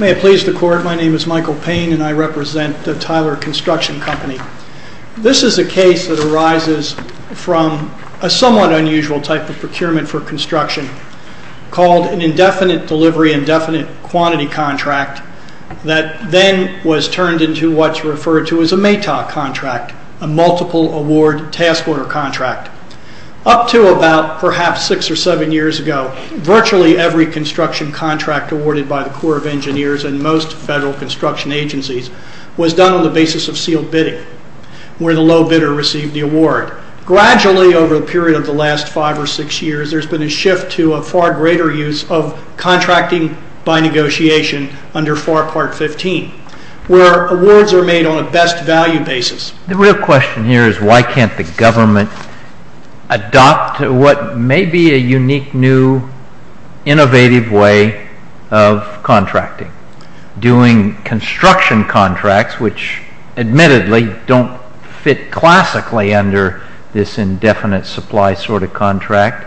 May it please the Court, my name is Michael Payne and I represent Tyler Construction Company. This is a case that arises from a somewhat unusual type of procurement for construction called an indefinite delivery, indefinite quantity contract that then was turned into what's referred to as a MATOC contract, a multiple award task order contract. Up to about perhaps six or seven years ago, virtually every construction contract awarded by the Corps of Engineers and most federal construction agencies was done on the basis of sealed bidding, where the low bidder received the award. Gradually over the period of the last five or six years there's been a shift to a far greater use of contracting by negotiation under FAR Part 15, where awards are made on a best value basis. The real question here is why can't the government adopt what may be a unique, new, innovative way of contracting, doing construction contracts which admittedly don't fit classically under this indefinite supply sort of contract,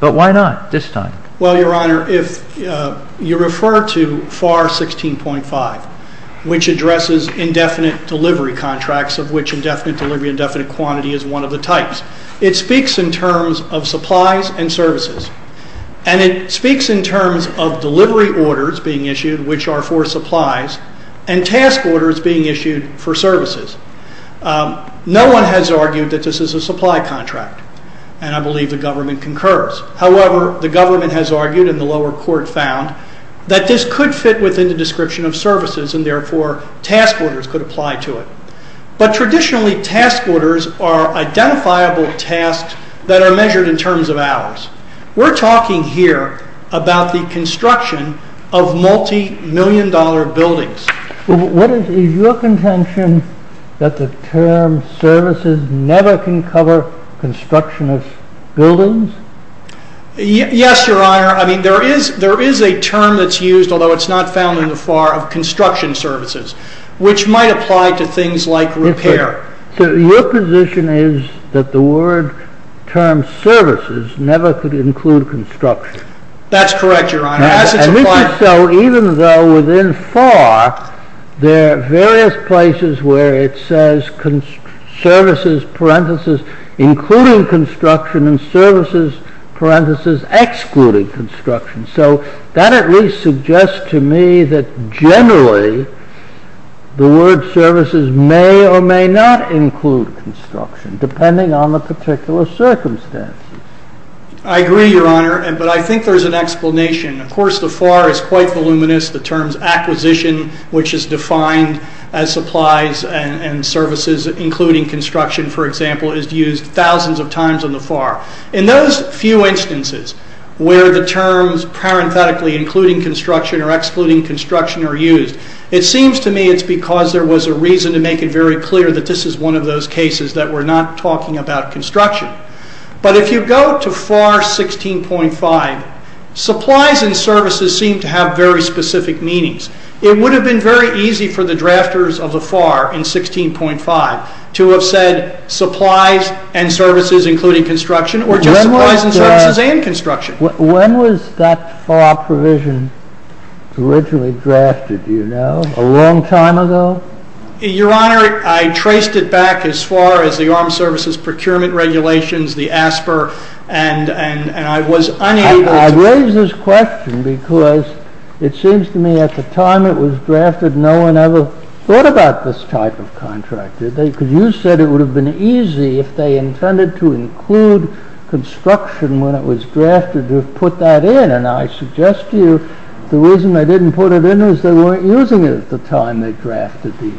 but why not this time? Well, Your Honor, if you refer to FAR 16.5, which addresses indefinite delivery contracts, of which indefinite delivery, indefinite quantity is one of the types, it speaks in terms of supplies and services. And it speaks in terms of delivery orders being issued, which are for supplies, and task orders being issued for services. No one has argued that this is a supply contract, and I believe the government concurs. However, the government has argued, and the lower court found, that this could fit within the description of services, and therefore task orders could apply to it. But traditionally task orders are identifiable tasks that are measured in terms of hours. We're talking here about the construction of multi-million dollar buildings. Is your contention that the term services never can cover construction of buildings? Yes, Your Honor. I mean, there is a term that's used, although it's not found in the FAR, of construction services, which might apply to things like repair. So your position is that the word term services never could include construction? That's correct, Your Honor. And if so, even though within FAR, there are various places where it says services, parenthesis, including construction, and services, parenthesis, excluding construction. So that at least suggests to me that generally, the word services may or may not include construction, depending on the particular circumstances. I agree, Your Honor, but I think there's an explanation. Of course, the FAR is quite voluminous. The terms acquisition, which is defined as supplies and services, including construction, for example, is used thousands of times in the FAR. In those few instances where the terms, parenthetically, including construction or excluding construction are used, it seems to me it's because there was a reason to make it very clear that this is one of those cases that we're not talking about construction. But if you go to FAR 16.5, supplies and services seem to have very specific meanings. It would have been very easy for the drafters of the FAR in 16.5 to have said supplies and services, including construction, or just supplies and services and construction. When was that FAR provision originally drafted, do you know? A long time ago? Your Honor, I traced it back as far as the Armed Services Procurement Regulations, the ASPR, and I was unable to- I raise this question because it seems to me at the time it was drafted, no one ever thought about this type of contract. You said it would have been easy if they intended to include construction when it was drafted to have put that in, and I suggest to you the reason they didn't put it in is they weren't using it at the time they drafted these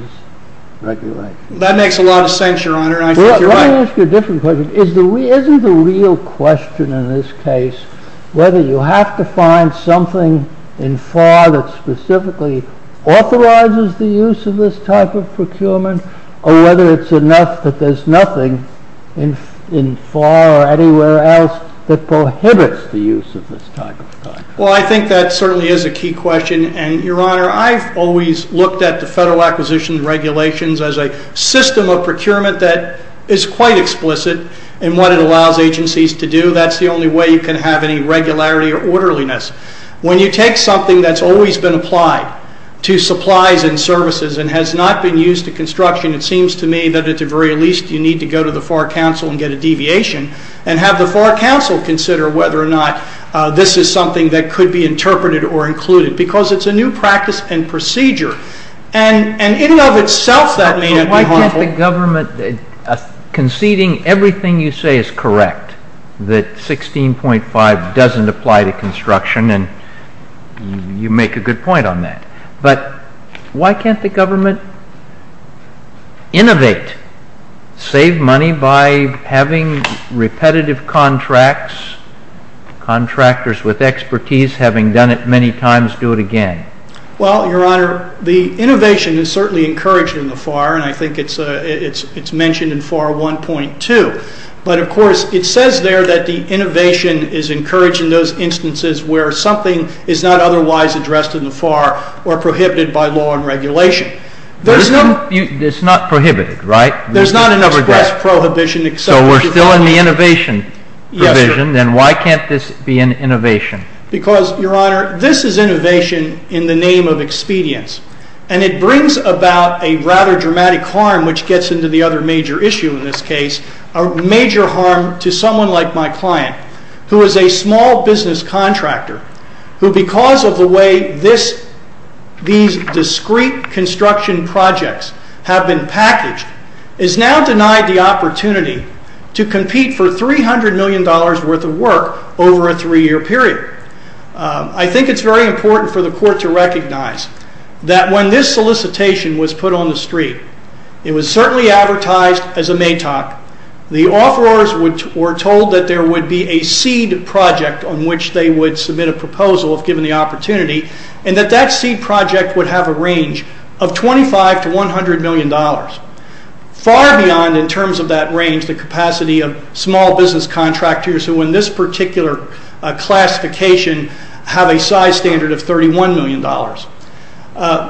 regulations. That makes a lot of sense, Your Honor. Let me ask you a different question. Isn't the real question in this case whether you have to find something in FAR that specifically authorizes the use of this type of procurement or whether it's enough that there's nothing in FAR or anywhere else that prohibits the use of this type of contract? Well, I think that certainly is a key question, and Your Honor, I've always looked at the Federal Acquisition Regulations as a system of procurement that is quite explicit in what it allows agencies to do. That's the only way you can have any regularity or orderliness. When you take something that's always been applied to supplies and services and has not been used to construction, it seems to me that at the very least you need to go to the FAR Council and get a deviation and have the FAR Council consider whether or not this is something that could be interpreted or included because it's a new practice and procedure. And in and of itself that may not be harmful. But why can't the government, conceding everything you say is correct, that 16.5 doesn't apply to construction, and you make a good point on that, but why can't the government innovate, save money by having repetitive contracts, contractors with expertise having done it many times do it again? Well, Your Honor, the innovation is certainly encouraged in the FAR, and I think it's mentioned in FAR 1.2, but of course it says there that the innovation is encouraged in those instances where something is not otherwise addressed in the FAR or prohibited by law and regulation. It's not prohibited, right? There's not an express prohibition. So we're still in the innovation provision, then why can't this be an innovation? Because, Your Honor, this is innovation in the name of expedience, and it brings about a rather dramatic harm which gets into the other major issue in this case, a major harm to someone like my client, who is a small business contractor, who because of the way these discrete construction projects have been packaged, is now denied the opportunity to compete for $300 million worth of work over a three-year period. I think it's very important for the Court to recognize that when this solicitation was put on the street, it was certainly advertised as a MATOC. The offerors were told that there would be a seed project on which they would submit a proposal if given the opportunity, and that that seed project would have a range of 25 to $100 million, far beyond in terms of that range the capacity of small business contractors who in this particular classification have a size standard of $31 million.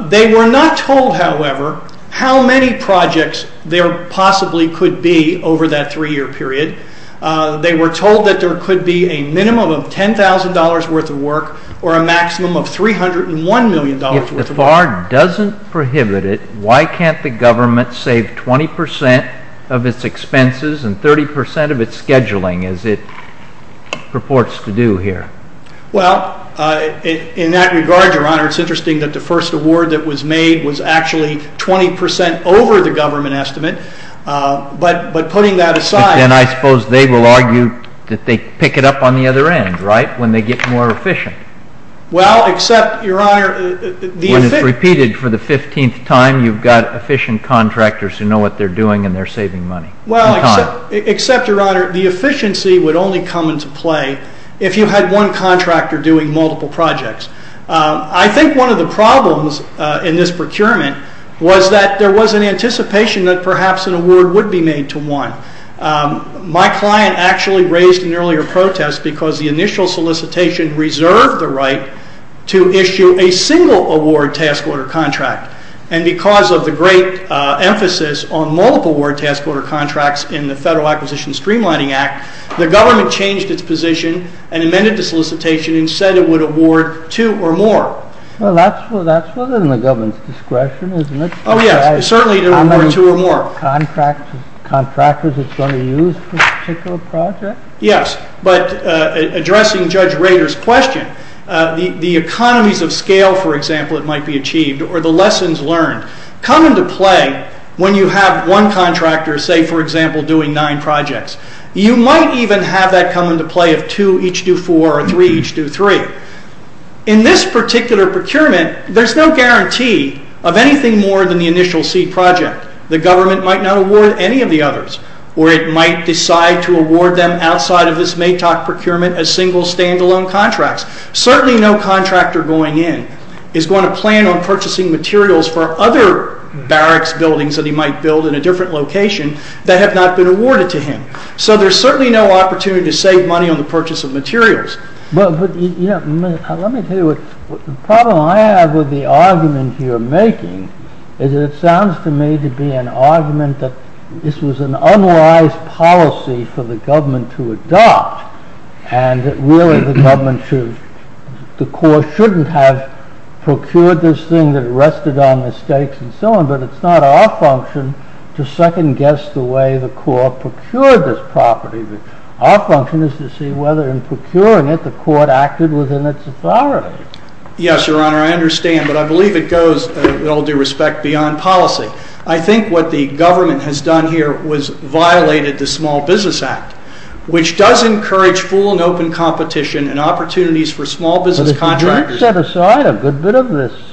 They were not told, however, how many projects there possibly could be over that three-year period. They were told that there could be a minimum of $10,000 worth of work, or a maximum of $301 million worth of work. If the FAR doesn't prohibit it, why can't the government save 20% of its expenses and 30% of its scheduling, as it purports to do here? Well, in that regard, Your Honor, it's interesting that the first award that was made was actually 20% over the government estimate, but putting that aside... But then I suppose they will argue that they pick it up on the other end, right, when they get more efficient? Well, except, Your Honor... When it's repeated for the 15th time, you've got efficient contractors who know what they're doing and they're saving money. Well, except, Your Honor, the efficiency would only come into play if you had one contractor doing multiple projects. I think one of the problems in this procurement was that there was an anticipation that perhaps an award would be made to one. My client actually raised an earlier protest because the initial solicitation reserved the right to issue a single award task order contract. And because of the great emphasis on multiple award task order contracts in the Federal Acquisition Streamlining Act, the government changed its position and amended the solicitation and said it would award two or more. Well, that's within the government's discretion, isn't it? Oh, yes, certainly to award two or more. Contractors it's going to use for a particular project? Yes, but addressing Judge Rader's question, the economies of scale, for example, that might be achieved or the lessons learned come into play when you have one contractor, say for example, doing nine projects. You might even have that come into play of two each do four or three each do three. In this particular procurement, there's no guarantee of anything more than the initial seed project. The government might not award any of the others or it might decide to award them outside of this MATOC procurement as single, standalone contracts. Certainly no contractor going in is going to plan on purchasing materials for other barracks buildings that he might build in a different location that have not been awarded to him. So there's certainly no opportunity to save money on the purchase of materials. But let me tell you, the problem I have with the argument you're making is that it sounds to me to be an argument that this was an unwise policy for the government to adopt and really the government should, the court shouldn't have procured this thing that rested on the stakes and so on. But it's not our function to second guess the way the court procured this property. Our function is to see whether in procuring it the court acted within its authority. Yes, your honor, I understand. But I believe it goes, with all due respect, beyond policy. I think what the government has done here was violated the Small Business Act, which does encourage full and open competition and opportunities for small business contractors. You set aside a good bit of this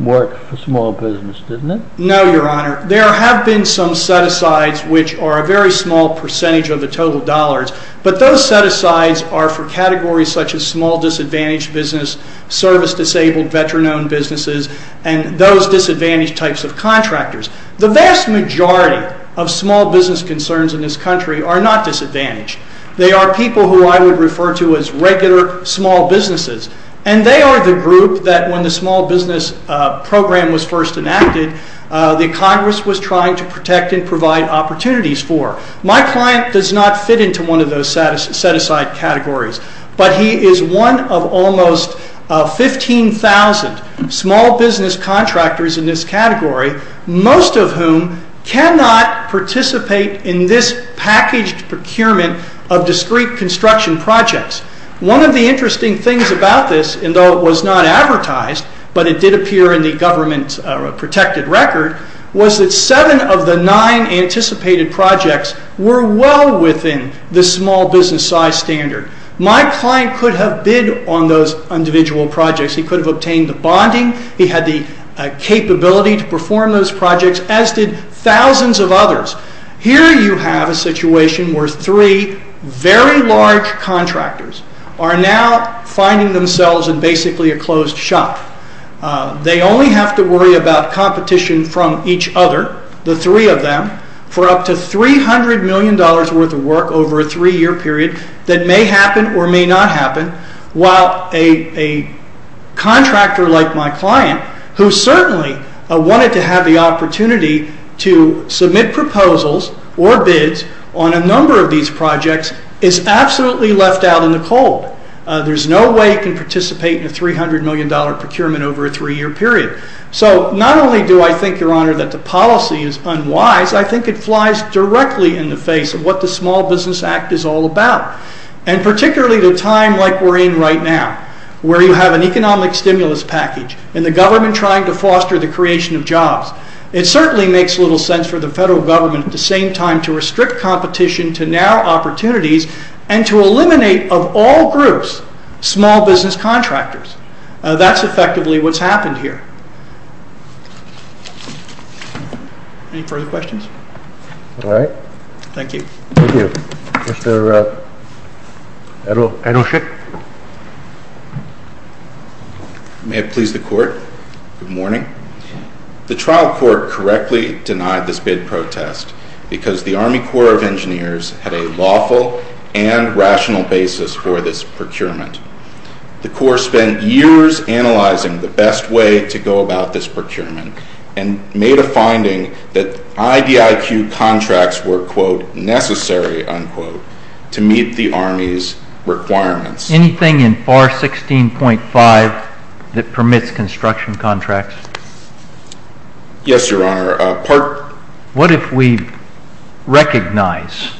work for small business, didn't it? No, your honor. There have been some set-asides which are a very small percentage of the total dollars. But those set-asides are for categories such as small disadvantaged business, service-disabled veteran-owned businesses, and those disadvantaged types of contractors. The vast majority of small business concerns in this country are not disadvantaged. They are people who I would refer to as regular small businesses. And they are the group that when the small business program was first enacted, the Congress was trying to protect and provide opportunities for. My client does not fit into one of those set-aside categories. But he is one of almost 15,000 small business contractors in this category, most of whom cannot participate in this packaged procurement of discrete construction projects. One of the interesting things about this, and though it was not advertised, but it did appear in the government protected record, was that seven of the nine anticipated projects were well within the small business size standard. My client could have bid on those individual projects. He could have obtained the bonding. He had the capability to perform those projects, as did thousands of others. Here you have a situation where three very large contractors are now finding themselves in basically a closed shop. They only have to worry about competition from each other, the three of them, for up to $300 million worth of work over a three-year period that may happen or may not happen. While a contractor like my client, who certainly wanted to have the opportunity to submit proposals or bids on a number of these projects, is absolutely left out in the cold. There is no way he can participate in a $300 million procurement over a three-year period. So not only do I think, Your Honor, that the policy is unwise, I think it flies directly in the face of what the Small Business Act is all about. And particularly at a time like we're in right now, where you have an economic stimulus package and the government trying to foster the creation of jobs, it certainly makes little sense for the federal government at the same time to restrict competition to narrow opportunities and to eliminate, of all groups, small business contractors. That's effectively what's happened here. Any further questions? All right. Thank you. Thank you. Mr. Edelshick. May it please the Court. Good morning. The trial court correctly denied this bid protest because the Army Corps of Engineers had a lawful and rational basis for this procurement. The Corps spent years analyzing the best way to go about this procurement and made a finding that IDIQ contracts were, quote, necessary, unquote, to meet the Army's requirements. Anything in FAR 16.5 that permits construction contracts? Yes, Your Honor. What if we recognize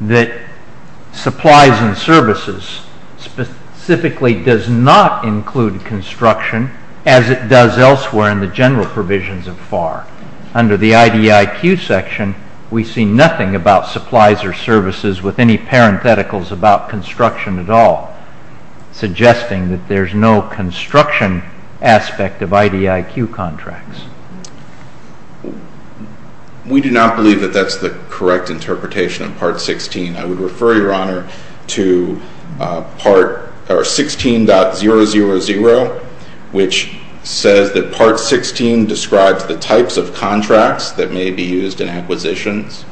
that supplies and services specifically does not include construction as it does elsewhere in the general provisions of FAR? Under the IDIQ section, we see nothing about supplies or services with any parentheticals about construction at all, suggesting that there's no construction aspect of IDIQ contracts. We do not believe that that's the correct interpretation of Part 16. I would refer, Your Honor, to 16.000, which says that Part 16 describes the types of contracts that may be used in acquisitions.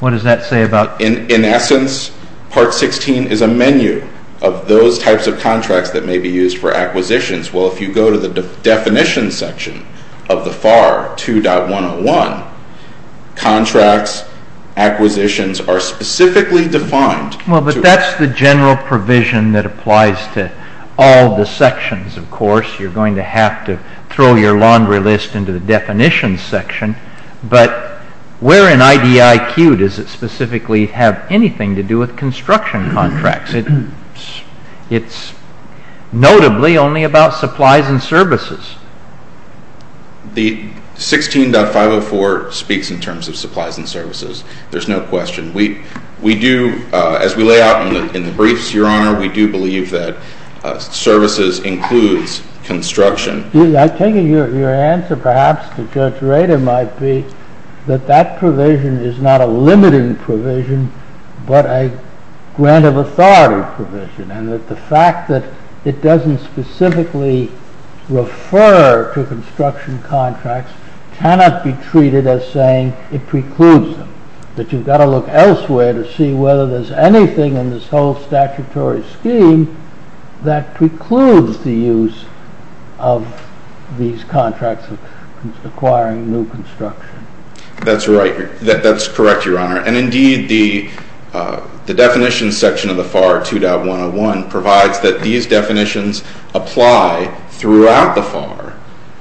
What does that say about? In essence, Part 16 is a menu of those types of contracts that may be used for acquisitions. Well, if you go to the definition section of the FAR 2.101, contracts, acquisitions are specifically defined. Well, but that's the general provision that applies to all the sections, of course. You're going to have to throw your laundry list into the definition section, but where in IDIQ does it specifically have anything to do with construction contracts? It's notably only about supplies and services. The 16.504 speaks in terms of supplies and services. There's no question. We do, as we lay out in the briefs, Your Honor, we do believe that services includes construction. I take it your answer, perhaps, to Judge Rader might be that that provision is not a limiting provision, but a grant of authority provision, and that the fact that it doesn't specifically refer to construction contracts cannot be treated as saying it precludes them, that you've got to look elsewhere to see whether there's anything in this whole statutory scheme that precludes the use of these contracts of acquiring new construction. That's right. That's correct, Your Honor, and indeed the definition section of the FAR 2.101 provides that these definitions apply throughout the FAR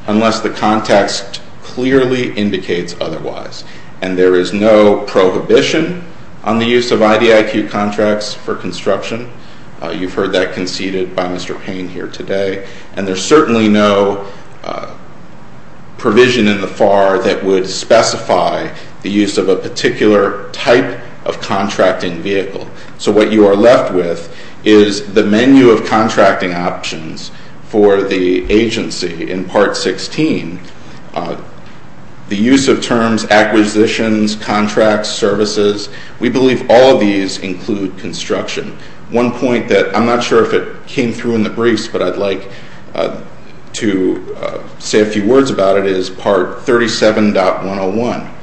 unless the context clearly indicates otherwise, and there is no prohibition on the use of IDIQ contracts for construction. You've heard that conceded by Mr. Payne here today, and there's certainly no provision in the FAR that would specify the use of a particular type of contracting vehicle. So what you are left with is the menu of contracting options for the agency in Part 16. The use of terms acquisitions, contracts, services, we believe all of these include construction. One point that I'm not sure if it came through in the briefs, but I'd like to say a few words about it is Part 37.101,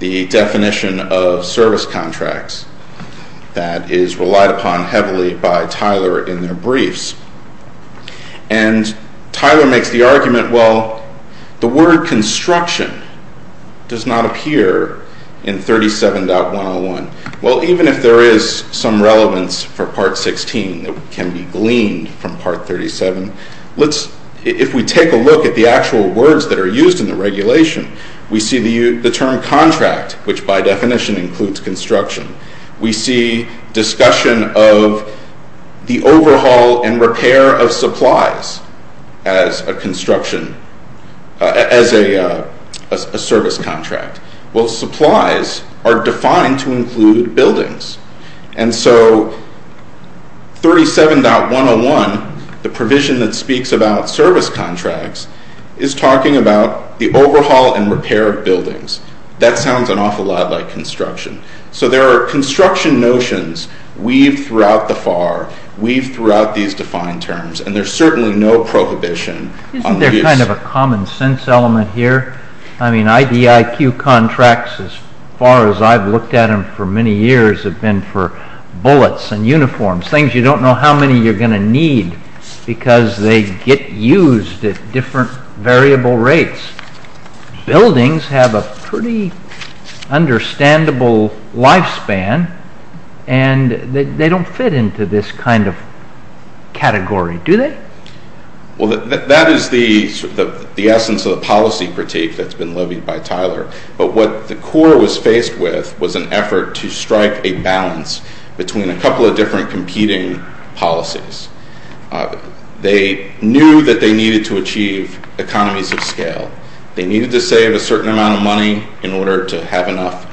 the definition of service contracts that is relied upon heavily by Tyler in their briefs, and Tyler makes the argument, well, the word construction does not appear in 37.101. Well, even if there is some relevance for Part 16 that can be gleaned from Part 37, if we take a look at the actual words that are used in the regulation, we see the term contract, which by definition includes construction. We see discussion of the overhaul and repair of supplies as a service contract. Well, supplies are defined to include buildings, and so 37.101, the provision that speaks about service contracts, is talking about the overhaul and repair of buildings. That sounds an awful lot like construction. So there are construction notions weaved throughout the FAR, weaved throughout these defined terms, and there's certainly no prohibition on these. Isn't there kind of a common sense element here? I mean, IDIQ contracts, as far as I've looked at them for many years, have been for bullets and uniforms, things you don't know how many you're going to need because they get used at different variable rates. Buildings have a pretty understandable lifespan, and they don't fit into this kind of category, do they? Well, that is the essence of the policy critique that's been levied by Tyler, but what the Corps was faced with was an effort to strike a balance between a couple of different competing policies. They knew that they needed to achieve economies of scale. They needed to save a certain amount of money in order to have enough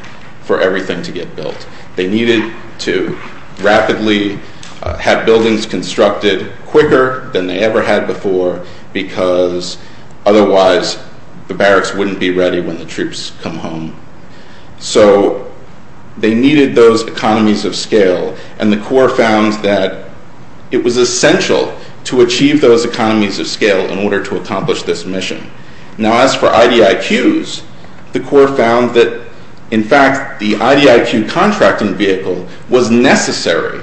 for everything to get built. They needed to rapidly have buildings constructed quicker than they ever had before because otherwise the barracks wouldn't be ready when the troops come home. So they needed those economies of scale, and the Corps found that it was essential to achieve those economies of scale in order to accomplish this mission. Now, as for IDIQs, the Corps found that, in fact, the IDIQ contracting vehicle was necessary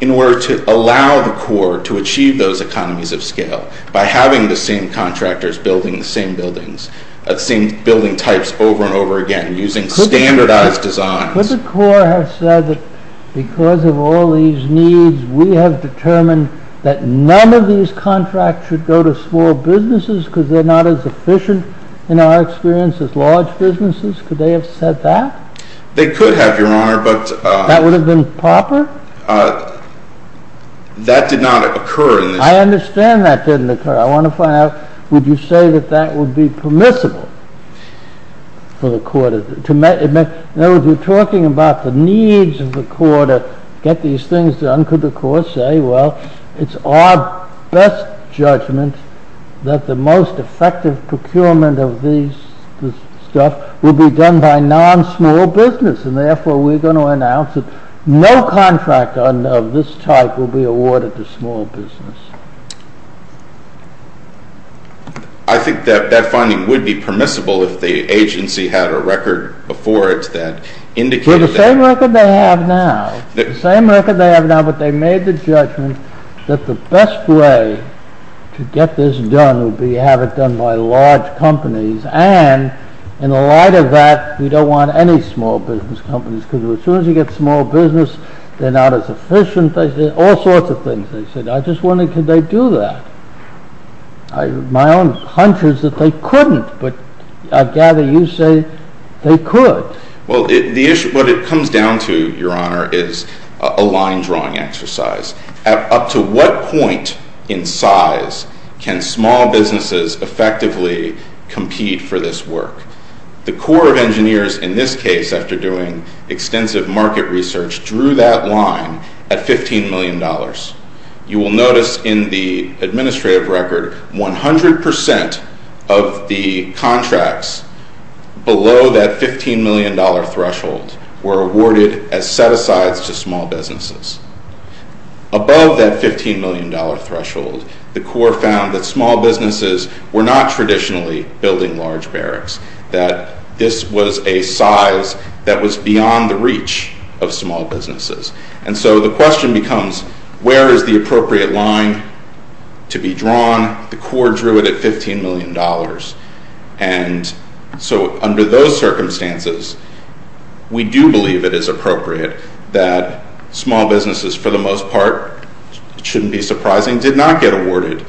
in order to allow the Corps to achieve those economies of scale by having the same contractors building the same buildings, the same building types over and over again using standardized designs. Could the Corps have said that because of all these needs we have determined that none of these contracts should go to small businesses because they're not as efficient in our experience as large businesses? Could they have said that? They could have, Your Honor, but... That would have been proper? That did not occur in this... I understand that didn't occur. I want to find out, would you say that that would be permissible for the Corps to... In other words, we're talking about the needs of the Corps to get these things done. Could the Corps say, well, it's our best judgment that the most effective procurement of these stuff will be done by non-small business and therefore we're going to announce that no contractor of this type will be awarded to small business. I think that that finding would be permissible if the agency had a record before it that indicated... For the same record they have now but they made the judgment that the best way to get this done would be to have it done by large companies and in the light of that we don't want any small business companies because as soon as you get small business they're not as efficient all sorts of things. I just wonder, could they do that? My own hunch is that they couldn't but I gather you say they could. What it comes down to, Your Honor, is a line drawing exercise. Up to what point in size can small businesses effectively compete for this work? The Corps of Engineers, in this case after doing extensive market research, drew that line at $15 million. You will notice in the administrative record, 100% of the contracts below that $15 million threshold were awarded as set-asides to small businesses. Above that $15 million threshold, the Corps found that small businesses were not traditionally building large barracks. That this was a size that was beyond the reach of small businesses. The question becomes, where is the appropriate line to be drawn? The Corps drew it at $15 million. Under those circumstances, we do believe it is appropriate that small businesses, for the most part, it shouldn't be surprising did not get awarded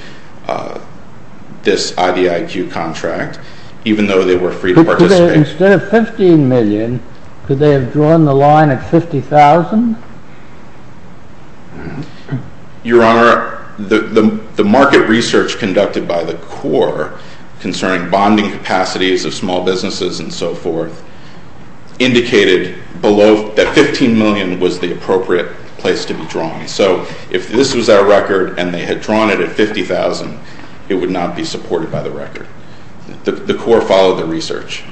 this IDIQ contract, even though they were free to participate. Instead of $15 million could they have drawn the line at $50,000? Your Honor, the market research conducted by the Corps concerning bonding capacities of small businesses and so forth indicated that $15 million was the appropriate place to be drawn. So if this was our record and they had drawn it at $50,000 it would not be supported by the record. The Corps followed the research.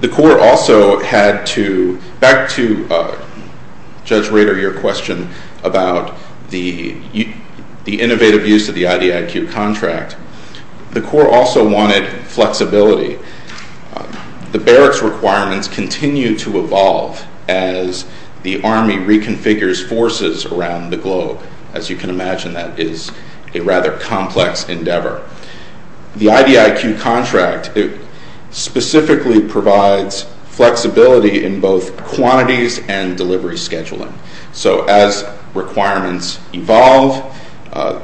The Corps also had to, back to Judge Rader, your question about the innovative use of the IDIQ contract, the Corps also wanted flexibility. The barracks requirements continue to evolve as the Army reconfigures forces around the globe. As you can imagine, that is a rather complex endeavor. The IDIQ contract specifically provides flexibility in both quantities and delivery scheduling. So as requirements evolve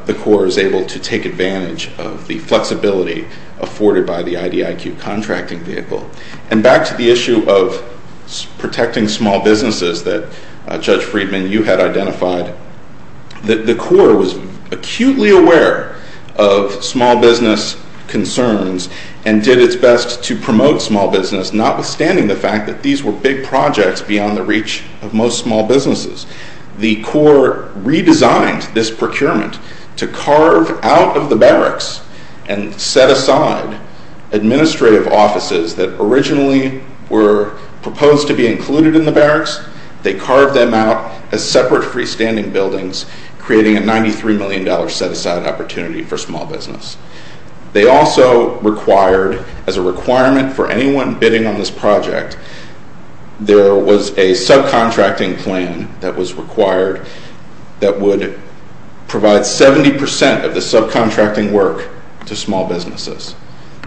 the Corps is able to take advantage of the flexibility afforded by the IDIQ contracting vehicle. And back to the issue of protecting small businesses that Judge Friedman, you had identified, the Corps was acutely aware of small business concerns and did its best to promote small business notwithstanding the fact that these were big projects beyond the reach of most small businesses. The Corps redesigned this procurement to carve out of the barracks and set aside administrative offices that originally were proposed to be included in the barracks. They carved them out as separate freestanding buildings, creating a $93 million set-aside opportunity for small business. They also required, as a requirement for anyone bidding on this project, there was a subcontracting plan that was required that would provide 70% of the subcontracting work to small businesses.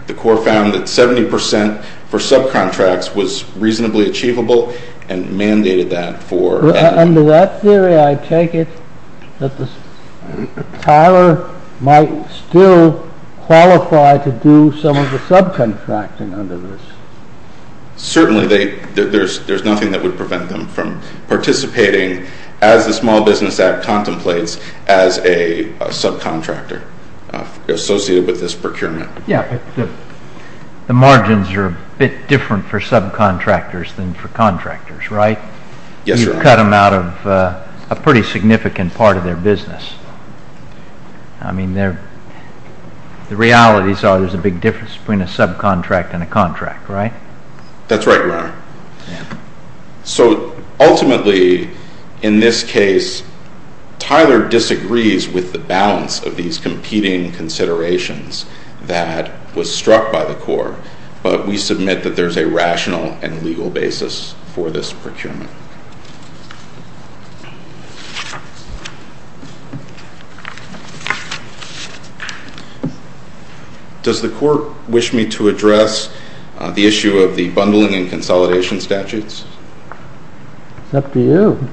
The Corps found that 70% for subcontracts was reasonably achievable and mandated that for... Under that theory I take it that the compiler might still qualify to do some of the subcontracting under this? Certainly. There's nothing that would prevent them from participating as the Small Business Act contemplates as a subcontractor associated with this procurement. Yeah. The margins are a bit different for subcontractors than for contractors, right? Yes, sir. You've cut them out of a pretty significant part of their business. I mean, the realities are there's a big difference between a subcontract and a contract, right? That's right, Your Honor. So, ultimately, in this case, Tyler disagrees with the balance of these competing considerations that was struck by the Corps, but we submit that there's a rational and legal basis for this procurement. Does the Court wish me to address the issue of the bundling and consolidation statutes? It's up to you.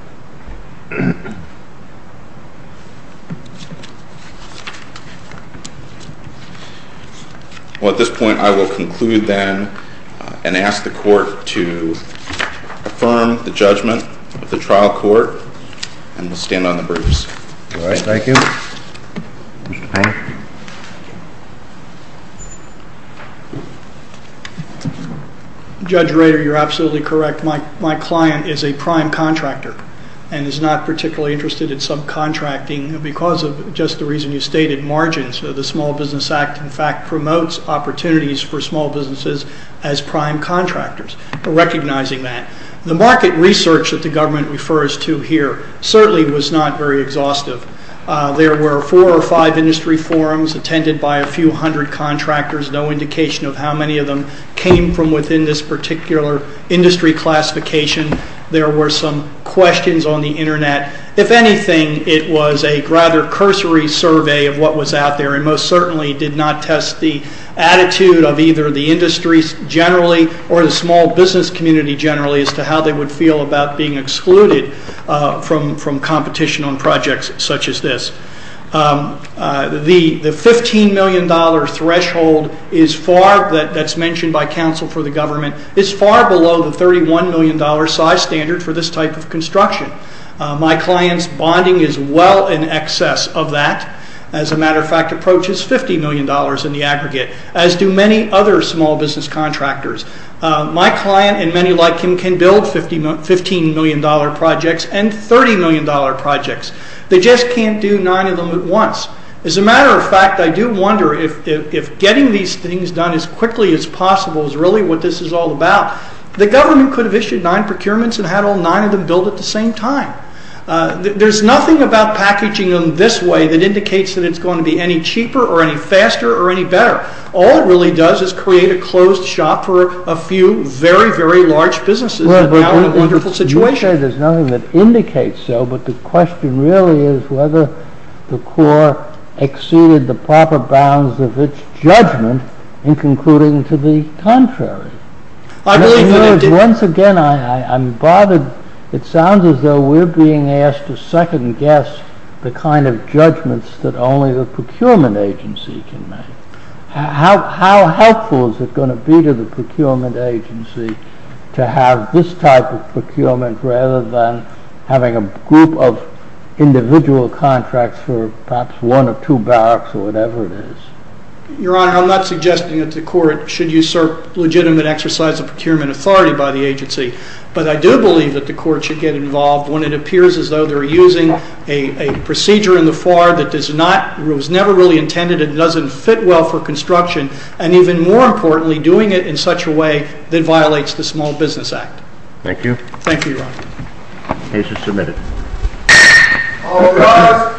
Well, at this point, I will conclude then and ask the Court to affirm the judgment of the trial court, and we'll stand on the briefcase. All right. Thank you. Judge Rader, you're absolutely correct. My client is a prime contractor and is not particularly interested in subcontracting because of just the reason you stated margins. The Small Business Act, in fact, promotes opportunities for small businesses as prime contractors. Recognizing that, the market research that the government refers to here certainly was not very exhaustive. There were four or five industry forums attended by a few hundred contractors. No indication of how many of them came from within this particular industry classification. There were some questions on the internet. If anything, it was a rather cursory survey of what was out there and most certainly did not test the attitude of either the industry generally or the small business community generally as to how they would feel about being excluded from competition on projects such as this. The $15 million threshold that's mentioned by counsel for the government is far below the $31 million size standard for this type of construction. My client's bonding is well in excess of that. As a matter of fact, it approaches $50 million in the aggregate as do many other small business contractors. My client and many like him can build $15 million projects and $30 million projects. They just can't do nine of them at once. As a matter of fact, I do wonder if getting these things done as quickly as possible is really what this is all about. The government could have issued nine procurements and had all nine of them built at the same time. There's nothing about packaging them this way that indicates that it's going to be any cheaper or any faster or any better. All it really does is create a closed shop for a few very, very large businesses. We're now in a wonderful situation. There's nothing that indicates so, but the question really is whether the Corps exceeded the proper bounds of its judgment in concluding to the contrary. Once again, I'm bothered. It sounds as though we're being asked to second guess the kind of judgments that only the procurement agency can make. How helpful is it going to be to the procurement agency to have this type of procurement rather than having a group of individual contracts for perhaps one or two barracks or whatever it is? Your Honor, I'm not suggesting that the Court should usurp legitimate exercise of procurement authority by the agency, but I do believe that the Court should get involved when it appears as though they're using a procedure in the FAR that was never really intended and doesn't fit well for construction and even more importantly, doing it in such a way that violates the Small Business Act. Thank you. Thank you, Your Honor. Case is submitted. All rise.